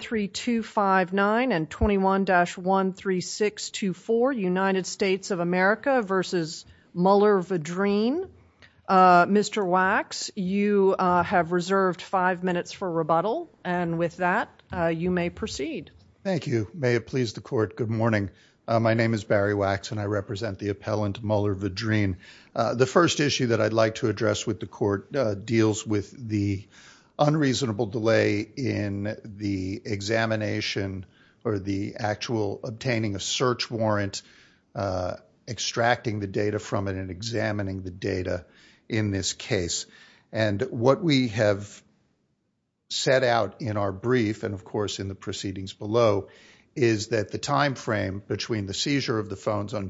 3259 and 21-13624 United States of America v. Muller Vedrine. Mr. Wax, you have reserved five minutes for rebuttal and with that you may proceed. Thank you. May it please the court, good morning. My name is Barry Wax and I represent the appellant Muller Vedrine. The first issue that I'd like to address with the court deals with the unreasonable delay in the examination or the actual obtaining a search warrant, extracting the data from it and examining the data in this case. And what we have set out in our brief and of course in the proceedings below is that the time frame between the seizure of the phones on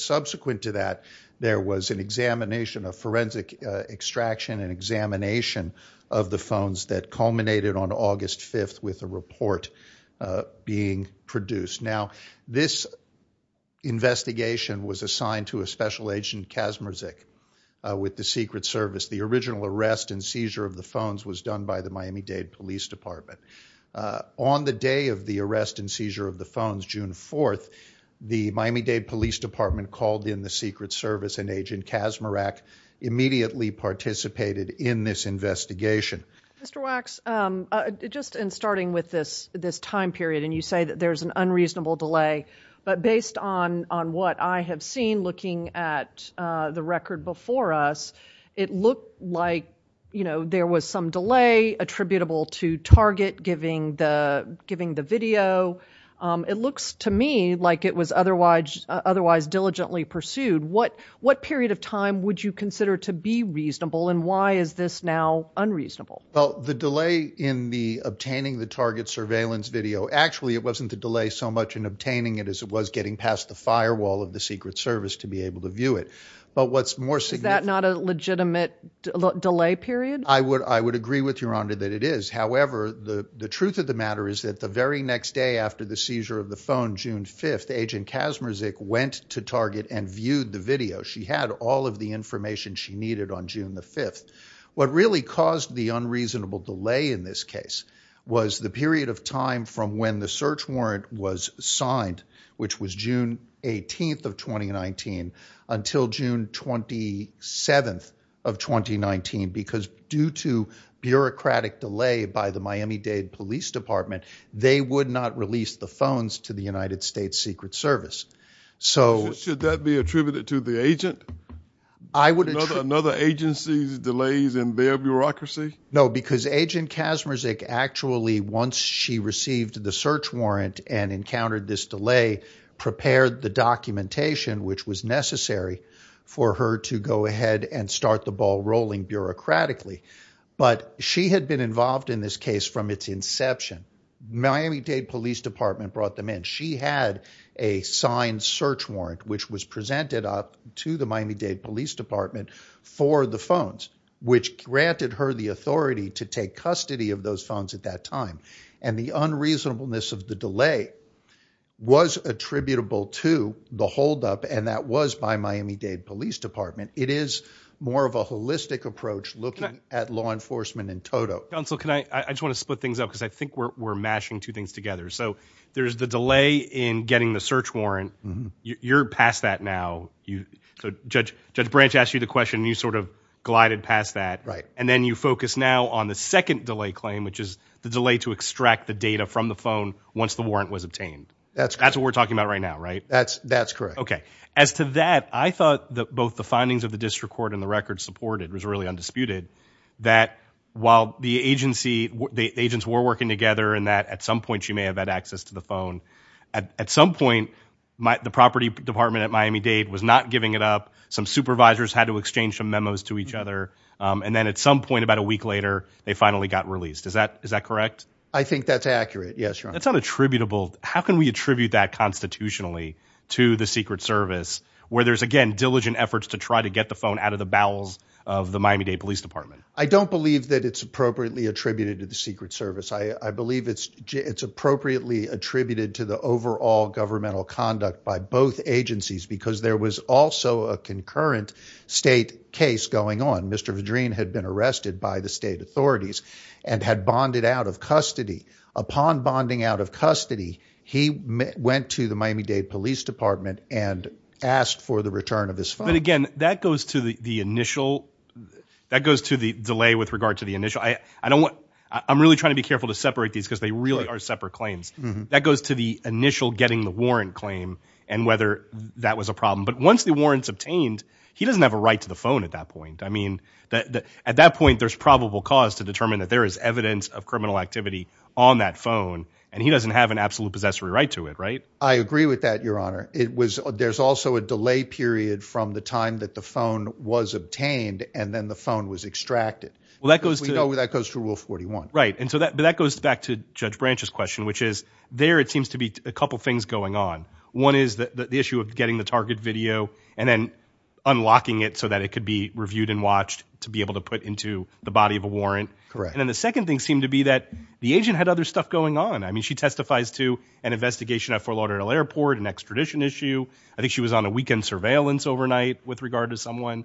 Subsequent to that, there was an examination of forensic extraction and examination of the phones that culminated on August 5th with a report being produced. Now this investigation was assigned to a special agent Kasmerzik with the Secret Service. The original arrest and seizure of the phones was done by the Miami-Dade Police Department. On the day of the arrest and seizure of the phones, June 4th, the Miami-Dade Police Department called in the Secret Service and Agent Kasmerzik immediately participated in this investigation. Mr. Wax, just in starting with this time period and you say that there's an unreasonable delay, but based on what I have seen looking at the record before us, it looked like there was some delay attributable to Target giving the video. It looks to me like it was otherwise diligently pursued. What period of time would you consider to be reasonable and why is this now unreasonable? Well, the delay in obtaining the Target surveillance video, actually it wasn't the delay so much in obtaining it as it was getting past the firewall of the Secret Service to be able to view it. But what's more significant... Is that not a legitimate delay period? I would agree with Your Honor that it is. However, the truth of the matter is that the very next day after the seizure of the phone, June 5th, Agent Kasmerzik went to Target and viewed the video. She had all of the information she needed on June the 5th. What really caused the unreasonable delay in this case was the period of time from when the search warrant was signed, which was June 18th of 2019, until June 27th of 2019 because due to bureaucratic delay by the Miami-Dade Police Department, they would not release the phones to the United States Secret Service. Should that be attributed to the agent? I would... Another agency's delays in their bureaucracy? No, because Agent Kasmerzik actually, once she received the search warrant and encountered this delay, prepared the documentation which was necessary for her to go ahead and start the ball rolling bureaucratically. But she had been involved in this case from its inception. Miami-Dade Police Department brought them in. She had a signed search warrant which was presented up to the Miami-Dade Police Department for the phones, which granted her the authority to take custody of those phones at that time. And the unreasonableness of the delay was attributable to the holdup, and that was by Miami-Dade Police Department. It is more of a holistic approach looking at law enforcement in total. Counsel, I just want to split things up because I think we're mashing two things together. So there's the delay in getting the search warrant. You're past that now. Judge Branch asked you the question, and you sort of glided past that. Right. And then you focus now on the second delay claim, which is the delay to extract the data from the phone once the warrant was obtained. That's correct. That's what we're talking about right now, right? That's correct. Okay. As to that, I thought that both the findings of the district court and the records supported, it was really undisputed, that while the agency, the agents were working together and that at some point she may have had access to the phone, at some point the property department at Miami-Dade was not giving it up. Some supervisors had to exchange some memos to each other. And then at some point, about a week later, they finally got released. Is that correct? I think that's accurate. Yes, Your Honor. That's unattributable. How can we attribute that constitutionally to the Secret Service where there's, again, diligent efforts to try to get the phone out of the bowels of the Miami-Dade Police Department? I don't believe that it's appropriately attributed to the Secret Service. I believe it's appropriately attributed to the overall governmental conduct by both agencies because there was also a concurrent state case going on. Mr. Vadreen had been arrested by the state authorities and had bonded out of custody. Upon bonding out of custody, he went to the Miami-Dade Police Department and asked for the return of his phone. But, again, that goes to the initial – that goes to the delay with regard to the initial. I'm really trying to be careful to separate these because they really are separate claims. That goes to the initial getting the warrant claim and whether that was a problem. But once the warrant's obtained, he doesn't have a right to the phone at that point. I mean at that point, there's probable cause to determine that there is evidence of criminal activity on that phone. And he doesn't have an absolute possessory right to it, right? I agree with that, Your Honor. There's also a delay period from the time that the phone was obtained and then the phone was extracted. Well, that goes to – We know that goes to Rule 41. Right. But that goes back to Judge Branch's question, which is there it seems to be a couple things going on. One is the issue of getting the target video and then unlocking it so that it could be reviewed and watched to be able to put into the body of a warrant. Correct. And then the second thing seemed to be that the agent had other stuff going on. I mean she testifies to an investigation at Fort Lauderdale Airport, an extradition issue. I think she was on a weekend surveillance overnight with regard to someone.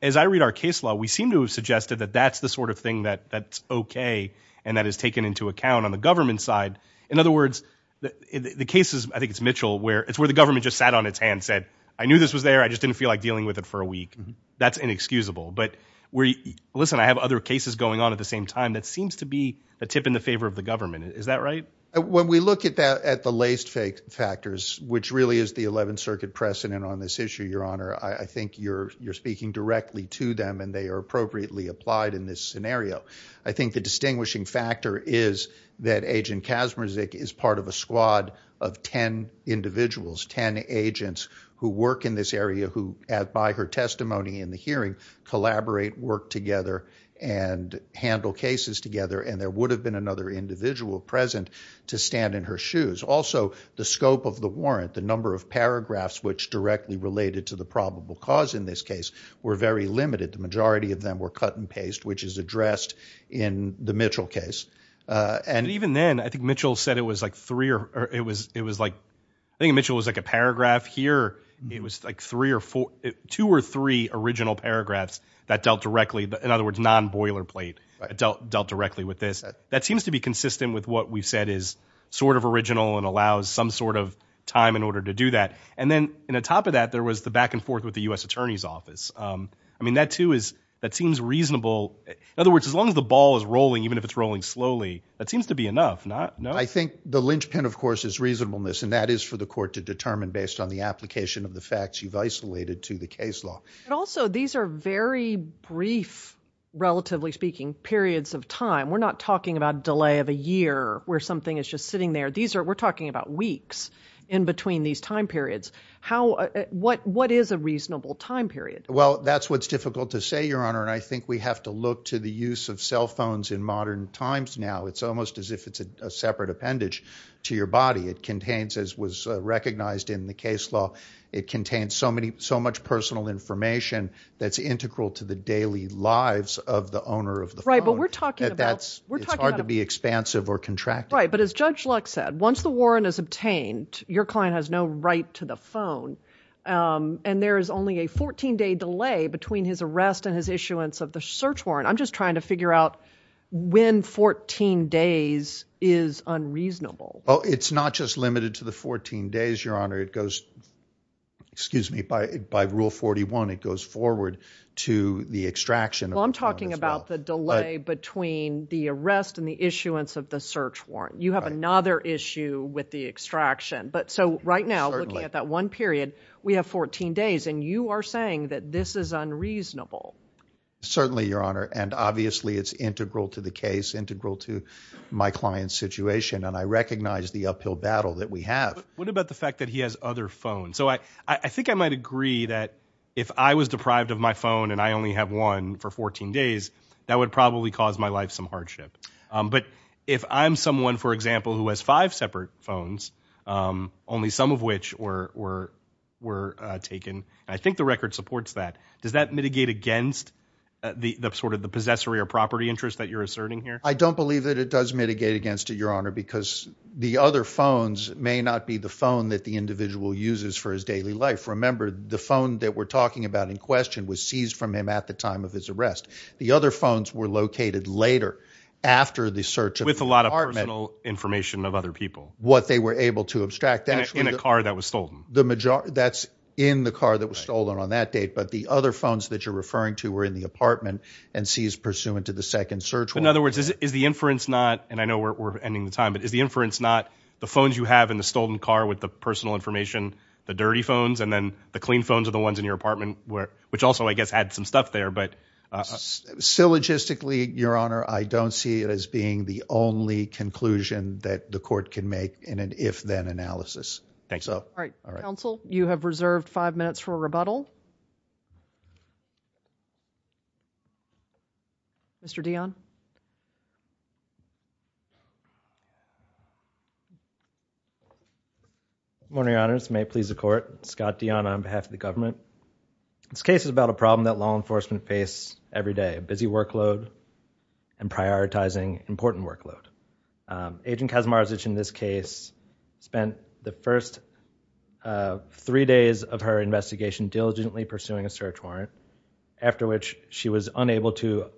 As I read our case law, we seem to have suggested that that's the sort of thing that's okay and that is taken into account on the government side. In other words, the cases – I think it's Mitchell where – it's where the government just sat on its hand and said, I knew this was there. I just didn't feel like dealing with it for a week. That's inexcusable. But we – listen, I have other cases going on at the same time. That seems to be a tip in the favor of the government. Is that right? When we look at that – at the laced factors, which really is the 11th Circuit precedent on this issue, Your Honor, I think you're speaking directly to them and they are appropriately applied in this scenario. I think the distinguishing factor is that Agent Kasmerzik is part of a squad of 10 individuals, 10 agents who work in this area who, by her testimony in the hearing, collaborate, work together and handle cases together. And there would have been another individual present to stand in her shoes. Also, the scope of the warrant, the number of paragraphs which directly related to the probable cause in this case were very limited. The majority of them were cut and paste, which is addressed in the Mitchell case. Even then, I think Mitchell said it was like three – it was like – I think Mitchell was like a paragraph here. It was like three or four – two or three original paragraphs that dealt directly. In other words, non-boilerplate dealt directly with this. That seems to be consistent with what we've said is sort of original and allows some sort of time in order to do that. And then on top of that, there was the back and forth with the U.S. Attorney's Office. I mean that too is – that seems reasonable. In other words, as long as the ball is rolling, even if it's rolling slowly, that seems to be enough, no? I think the linchpin, of course, is reasonableness, and that is for the court to determine based on the application of the facts you've isolated to the case law. But also, these are very brief, relatively speaking, periods of time. We're not talking about delay of a year where something is just sitting there. These are – we're talking about weeks in between these time periods. How – what is a reasonable time period? Well, that's what's difficult to say, Your Honor, and I think we have to look to the use of cell phones in modern times now. It's almost as if it's a separate appendage to your body. It contains, as was recognized in the case law, it contains so much personal information that's integral to the daily lives of the owner of the phone. Right, but we're talking about – It's hard to be expansive or contractive. Right, but as Judge Lux said, once the warrant is obtained, your client has no right to the phone. And there is only a 14-day delay between his arrest and his issuance of the search warrant. I'm just trying to figure out when 14 days is unreasonable. Well, it's not just limited to the 14 days, Your Honor. It goes – excuse me – by Rule 41, it goes forward to the extraction of the phone as well. Well, I'm talking about the delay between the arrest and the issuance of the search warrant. You have another issue with the extraction. But so right now, looking at that one period, we have 14 days, and you are saying that this is unreasonable. Certainly, Your Honor, and obviously it's integral to the case, integral to my client's situation, and I recognize the uphill battle that we have. But what about the fact that he has other phones? So I think I might agree that if I was deprived of my phone and I only have one for 14 days, that would probably cause my life some hardship. But if I'm someone, for example, who has five separate phones, only some of which were taken – and I think the record supports that – does that mitigate against the sort of the possessory or property interest that you're asserting here? I don't believe that it does mitigate against it, Your Honor, because the other phones may not be the phone that the individual uses for his daily life. Remember, the phone that we're talking about in question was seized from him at the time of his arrest. The other phones were located later after the search of the apartment. With a lot of personal information of other people. What they were able to abstract. In a car that was stolen. That's in the car that was stolen on that date. But the other phones that you're referring to were in the apartment and seized pursuant to the second search warrant. In other words, is the inference not – and I know we're ending the time – but is the inference not the phones you have in the stolen car with the personal information, the dirty phones, and then the clean phones are the ones in your apartment, which also, I guess, add some stuff there. Syllogistically, Your Honor, I don't see it as being the only conclusion that the court can make in an if-then analysis. I think so. All right. Counsel, you have reserved five minutes for a rebuttal. Mr. Dionne. Good morning, Your Honor. This may please the court. Scott Dionne on behalf of the government. This case is about a problem that law enforcement face every day. A busy workload and prioritizing important workload. Agent Kazmarzich in this case spent the first three days of her investigation diligently pursuing a search warrant, after which she was unable to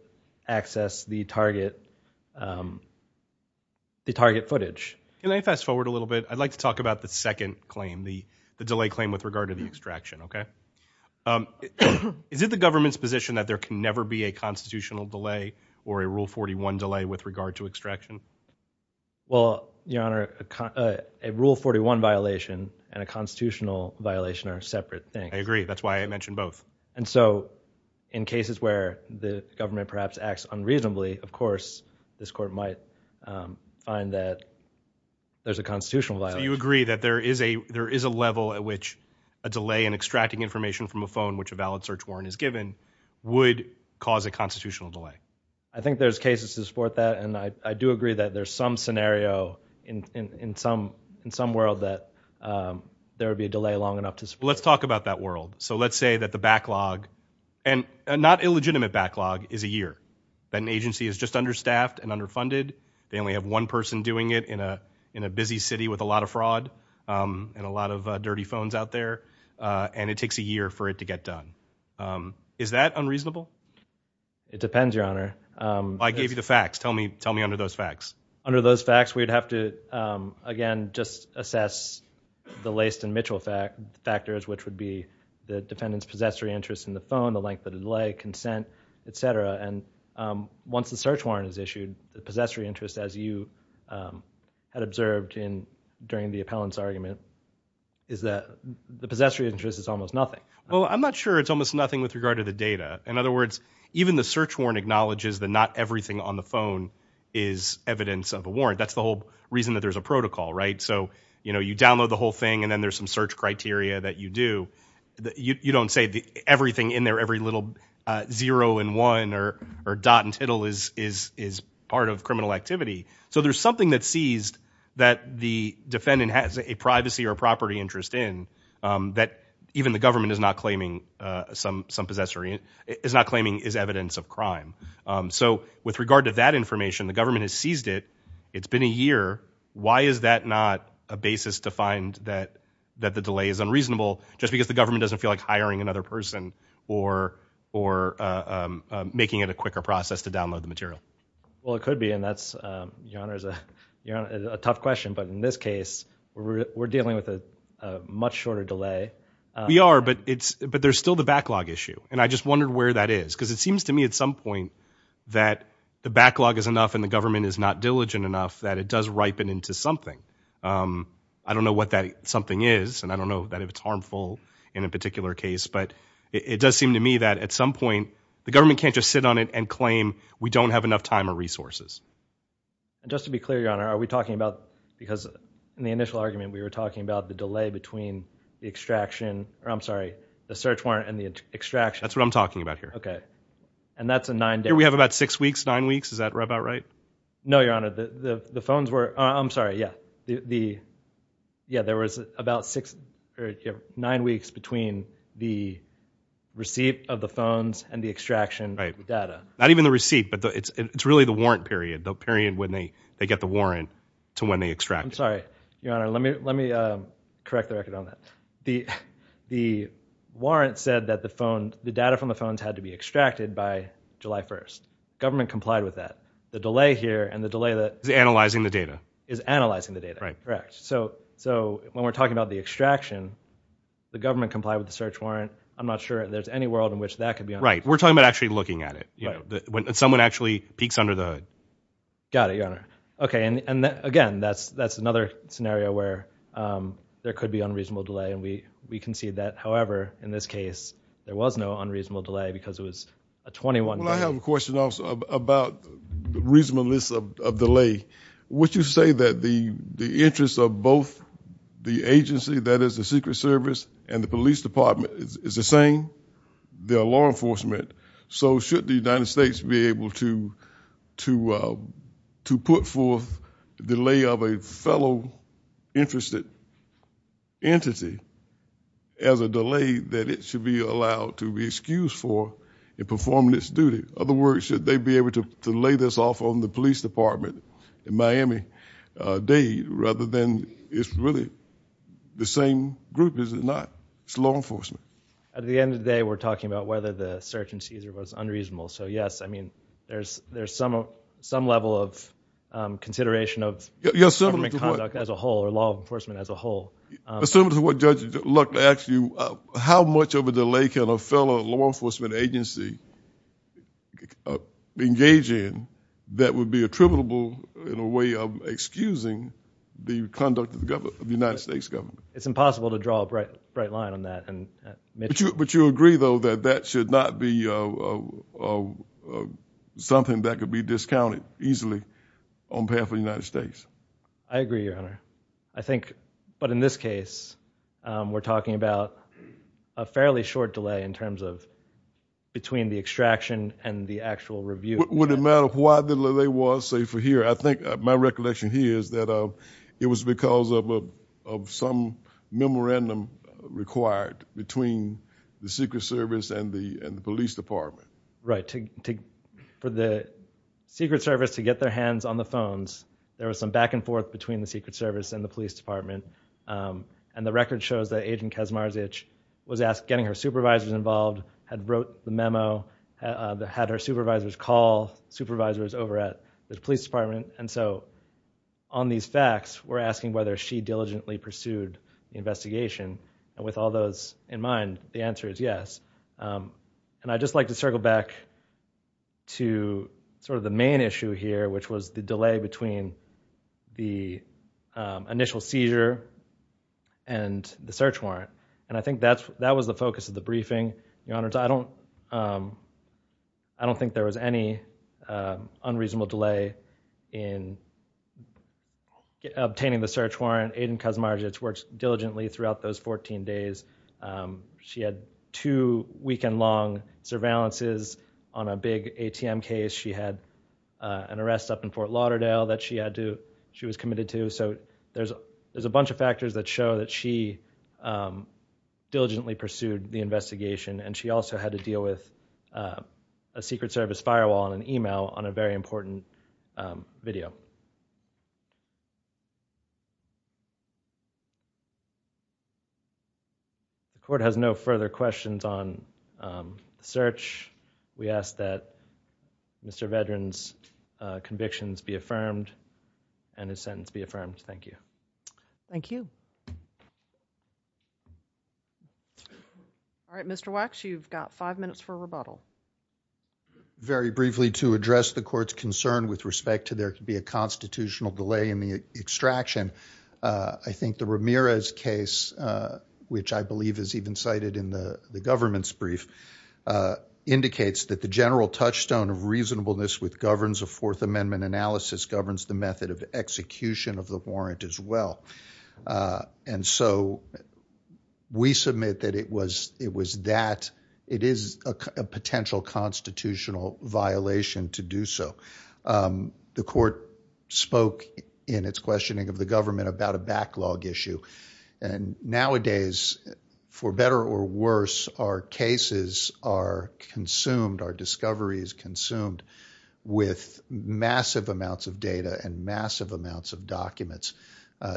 access the target footage. Can I fast forward a little bit? I'd like to talk about the second claim, the delay claim with regard to the extraction, okay? Is it the government's position that there can never be a constitutional delay or a Rule 41 delay with regard to extraction? Well, Your Honor, a Rule 41 violation and a constitutional violation are separate things. I agree. That's why I mentioned both. And so in cases where the government perhaps acts unreasonably, of course, this court might find that there's a constitutional violation. Do you agree that there is a level at which a delay in extracting information from a phone, which a valid search warrant is given, would cause a constitutional delay? I think there's cases to support that. And I do agree that there's some scenario in some world that there would be a delay long enough to support that. Let's talk about that world. So let's say that the backlog, and not illegitimate backlog, is a year. An agency is just understaffed and underfunded. They only have one person doing it in a busy city with a lot of fraud and a lot of dirty phones out there. And it takes a year for it to get done. Is that unreasonable? It depends, Your Honor. I gave you the facts. Tell me under those facts. Under those facts, we'd have to, again, just assess the Layston-Mitchell factors, which would be the defendant's possessory interest in the phone, the length of the delay, consent, et cetera. And once the search warrant is issued, the possessory interest, as you had observed during the appellant's argument, is that the possessory interest is almost nothing. Well, I'm not sure it's almost nothing with regard to the data. In other words, even the search warrant acknowledges that not everything on the phone is evidence of a warrant. That's the whole reason that there's a protocol, right? So you download the whole thing, and then there's some search criteria that you do. You don't say everything in there, every little zero and one or dot and tittle is part of criminal activity. So there's something that's seized that the defendant has a privacy or property interest in that even the government is not claiming is evidence of crime. So with regard to that information, the government has seized it. It's been a year. Why is that not a basis to find that the delay is unreasonable just because the government doesn't feel like hiring another person or making it a quicker process to download the material? Well, it could be, and that's, Your Honor, a tough question. But in this case, we're dealing with a much shorter delay. We are, but there's still the backlog issue. And I just wondered where that is because it seems to me at some point that the backlog is enough and the government is not diligent enough that it does ripen into something. I don't know what that something is, and I don't know that it's harmful in a particular case, but it does seem to me that at some point the government can't just sit on it and claim we don't have enough time or resources. Just to be clear, Your Honor, are we talking about because in the initial argument we were talking about the delay between the extraction, or I'm sorry, the search warrant and the extraction. That's what I'm talking about here. Okay. And that's a nine day. So here we have about six weeks, nine weeks. Is that about right? No, Your Honor. The phones were, I'm sorry, yeah. Yeah, there was about six or nine weeks between the receipt of the phones and the extraction data. Right. Not even the receipt, but it's really the warrant period, the period when they get the warrant to when they extract it. I'm sorry, Your Honor. Let me correct the record on that. The warrant said that the phone, the data from the phones had to be extracted by July 1st. Government complied with that. The delay here and the delay that- Is analyzing the data. Is analyzing the data. Right. Correct. So when we're talking about the extraction, the government complied with the search warrant. I'm not sure there's any world in which that could be- Right. We're talking about actually looking at it. Right. When someone actually peeks under the hood. Got it, Your Honor. Okay, and again, that's another scenario where there could be unreasonable delay, and we concede that. However, in this case, there was no unreasonable delay because it was a 21-day- Well, I have a question also about reasonableness of delay. Would you say that the interest of both the agency, that is the Secret Service, and the police department is the same, they're law enforcement, so should the United States be able to put forth the delay of a fellow interested entity as a delay that it should be allowed to be excused for in performing its duty? Other words, should they be able to lay this off on the police department in Miami-Dade rather than it's really the same group, is it not? It's law enforcement. At the end of the day, we're talking about whether the search and seizure was unreasonable. So, yes, I mean, there's some level of consideration of government conduct as a whole or law enforcement as a whole. Similar to what Judge Luck asked you, how much of a delay can a fellow law enforcement agency engage in that would be attributable in a way of excusing the conduct of the United States government? It's impossible to draw a bright line on that. But you agree, though, that that should not be something that could be discounted easily on behalf of the United States? I agree, Your Honor. I think, but in this case, we're talking about a fairly short delay in terms of between the extraction and the actual review. Would it matter why the delay was, say, for here? I think my recollection here is that it was because of some memorandum required between the Secret Service and the police department. Right. For the Secret Service to get their hands on the phones, there was some back and forth between the Secret Service and the police department. And the record shows that Agent Kesmarzich was asked, getting her supervisors involved, had wrote the memo, had her supervisors call supervisors over at the police department. And so on these facts, we're asking whether she diligently pursued the investigation. And with all those in mind, the answer is yes. And I'd just like to circle back to sort of the main issue here, which was the delay between the initial seizure and the search warrant. And I think that was the focus of the briefing, Your Honors. I don't think there was any unreasonable delay in obtaining the search warrant. Agent Kesmarzich worked diligently throughout those 14 days. She had two weekend-long surveillances on a big ATM case. She had an arrest up in Fort Lauderdale that she was committed to. So there's a bunch of factors that show that she diligently pursued the investigation. And she also had to deal with a Secret Service firewall and an email on a very important video. The Court has no further questions on the search. We ask that Mr. Vedran's convictions be affirmed and his sentence be affirmed. Thank you. Thank you. All right, Mr. Wax, you've got five minutes for rebuttal. Very briefly, to address the Court's concern with respect to there could be a constitutional delay in the extraction, I think the Ramirez case, which I believe is even cited in the government's brief, indicates that the general touchstone of reasonableness with governance of Fourth Amendment analysis governs the method of execution of the warrant as well. And so we submit that it was that. It is a potential constitutional violation to do so. The Court spoke in its questioning of the government about a backlog issue. And nowadays, for better or worse, our cases are consumed, our discovery is consumed, with massive amounts of data and massive amounts of documents.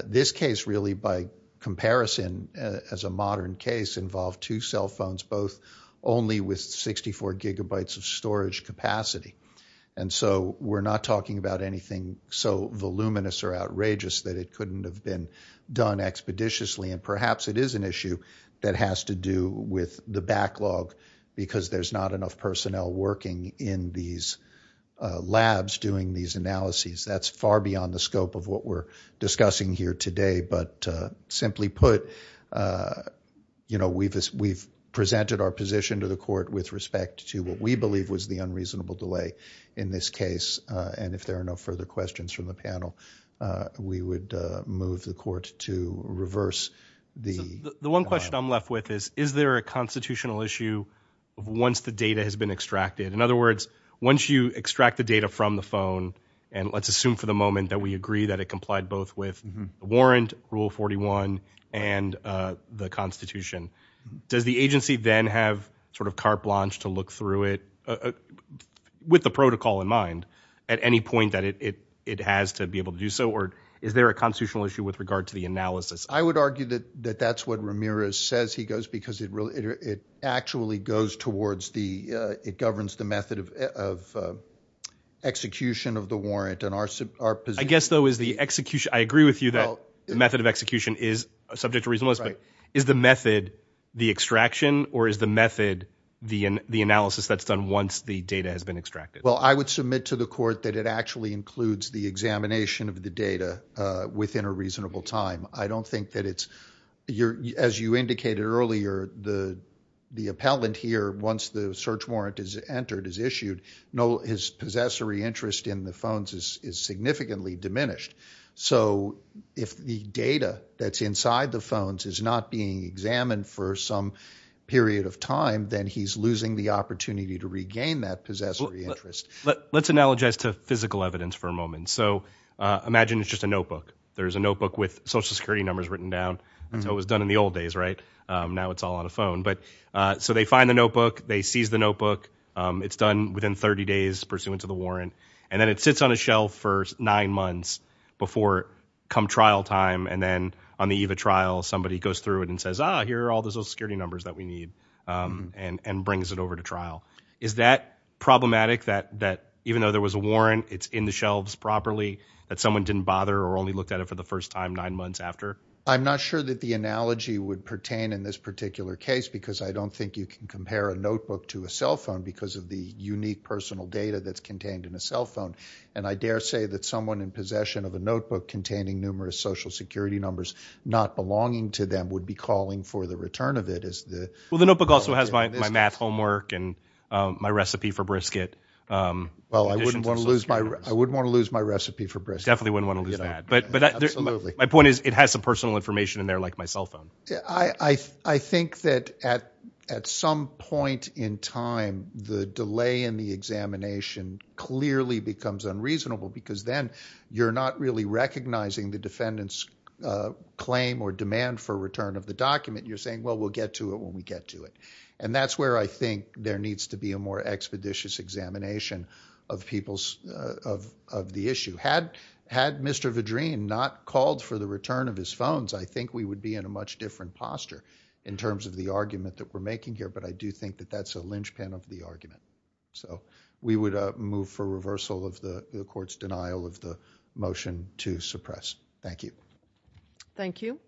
This case, really, by comparison, as a modern case, involved two cell phones, both only with 64 gigabytes of storage capacity. And so we're not talking about anything so voluminous or outrageous that it couldn't have been done expeditiously. And perhaps it is an issue that has to do with the backlog because there's not enough personnel working in these labs doing these analyses. That's far beyond the scope of what we're discussing here today. But simply put, you know, we've presented our position to the Court with respect to what we believe was the unreasonable delay in this case. And if there are no further questions from the panel, we would move the Court to reverse the backlog. The one question I'm left with is, is there a constitutional issue once the data has been extracted? In other words, once you extract the data from the phone, and let's assume for the moment that we agree that it complied both with the warrant, Rule 41, and the Constitution, does the agency then have sort of carte blanche to look through it with the protocol in mind at any point that it has to be able to do so? Or is there a constitutional issue with regard to the analysis? I would argue that that's what Ramirez says he does because it actually goes towards the – it governs the method of execution of the warrant. I guess, though, is the execution – I agree with you that the method of execution is subject to reasonableness, but is the method the extraction or is the method the analysis that's done once the data has been extracted? Well, I would submit to the Court that it actually includes the examination of the data within a reasonable time. I don't think that it's – as you indicated earlier, the appellant here, once the search warrant is entered, is issued, his possessory interest in the phones is significantly diminished. So if the data that's inside the phones is not being examined for some period of time, then he's losing the opportunity to regain that possessory interest. Let's analogize to physical evidence for a moment. So imagine it's just a notebook. There's a notebook with Social Security numbers written down. That's how it was done in the old days, right? Now it's all on a phone. So they find the notebook. They seize the notebook. It's done within 30 days pursuant to the warrant, and then it sits on a shelf for nine months before come trial time. And then on the eve of trial, somebody goes through it and says, ah, here are all the Social Security numbers that we need and brings it over to trial. Is that problematic, that even though there was a warrant, it's in the shelves properly, that someone didn't bother or only looked at it for the first time nine months after? I'm not sure that the analogy would pertain in this particular case because I don't think you can compare a notebook to a cell phone because of the unique personal data that's contained in a cell phone. And I dare say that someone in possession of a notebook containing numerous Social Security numbers not belonging to them would be calling for the return of it. Well, the notebook also has my math homework and my recipe for brisket. Well, I wouldn't want to lose my recipe for brisket. Definitely wouldn't want to lose that. But my point is it has some personal information in there like my cell phone. I think that at some point in time, the delay in the examination clearly becomes unreasonable because then you're not really recognizing the defendant's claim or demand for return of the document. You're saying, well, we'll get to it when we get to it. And that's where I think there needs to be a more expeditious examination of the issue. Had Mr. Vadreen not called for the return of his phones, I think we would be in a much different posture in terms of the argument that we're making here. But I do think that that's a linchpin of the argument. So we would move for reversal of the court's denial of the motion to suppress. Thank you. Thank you.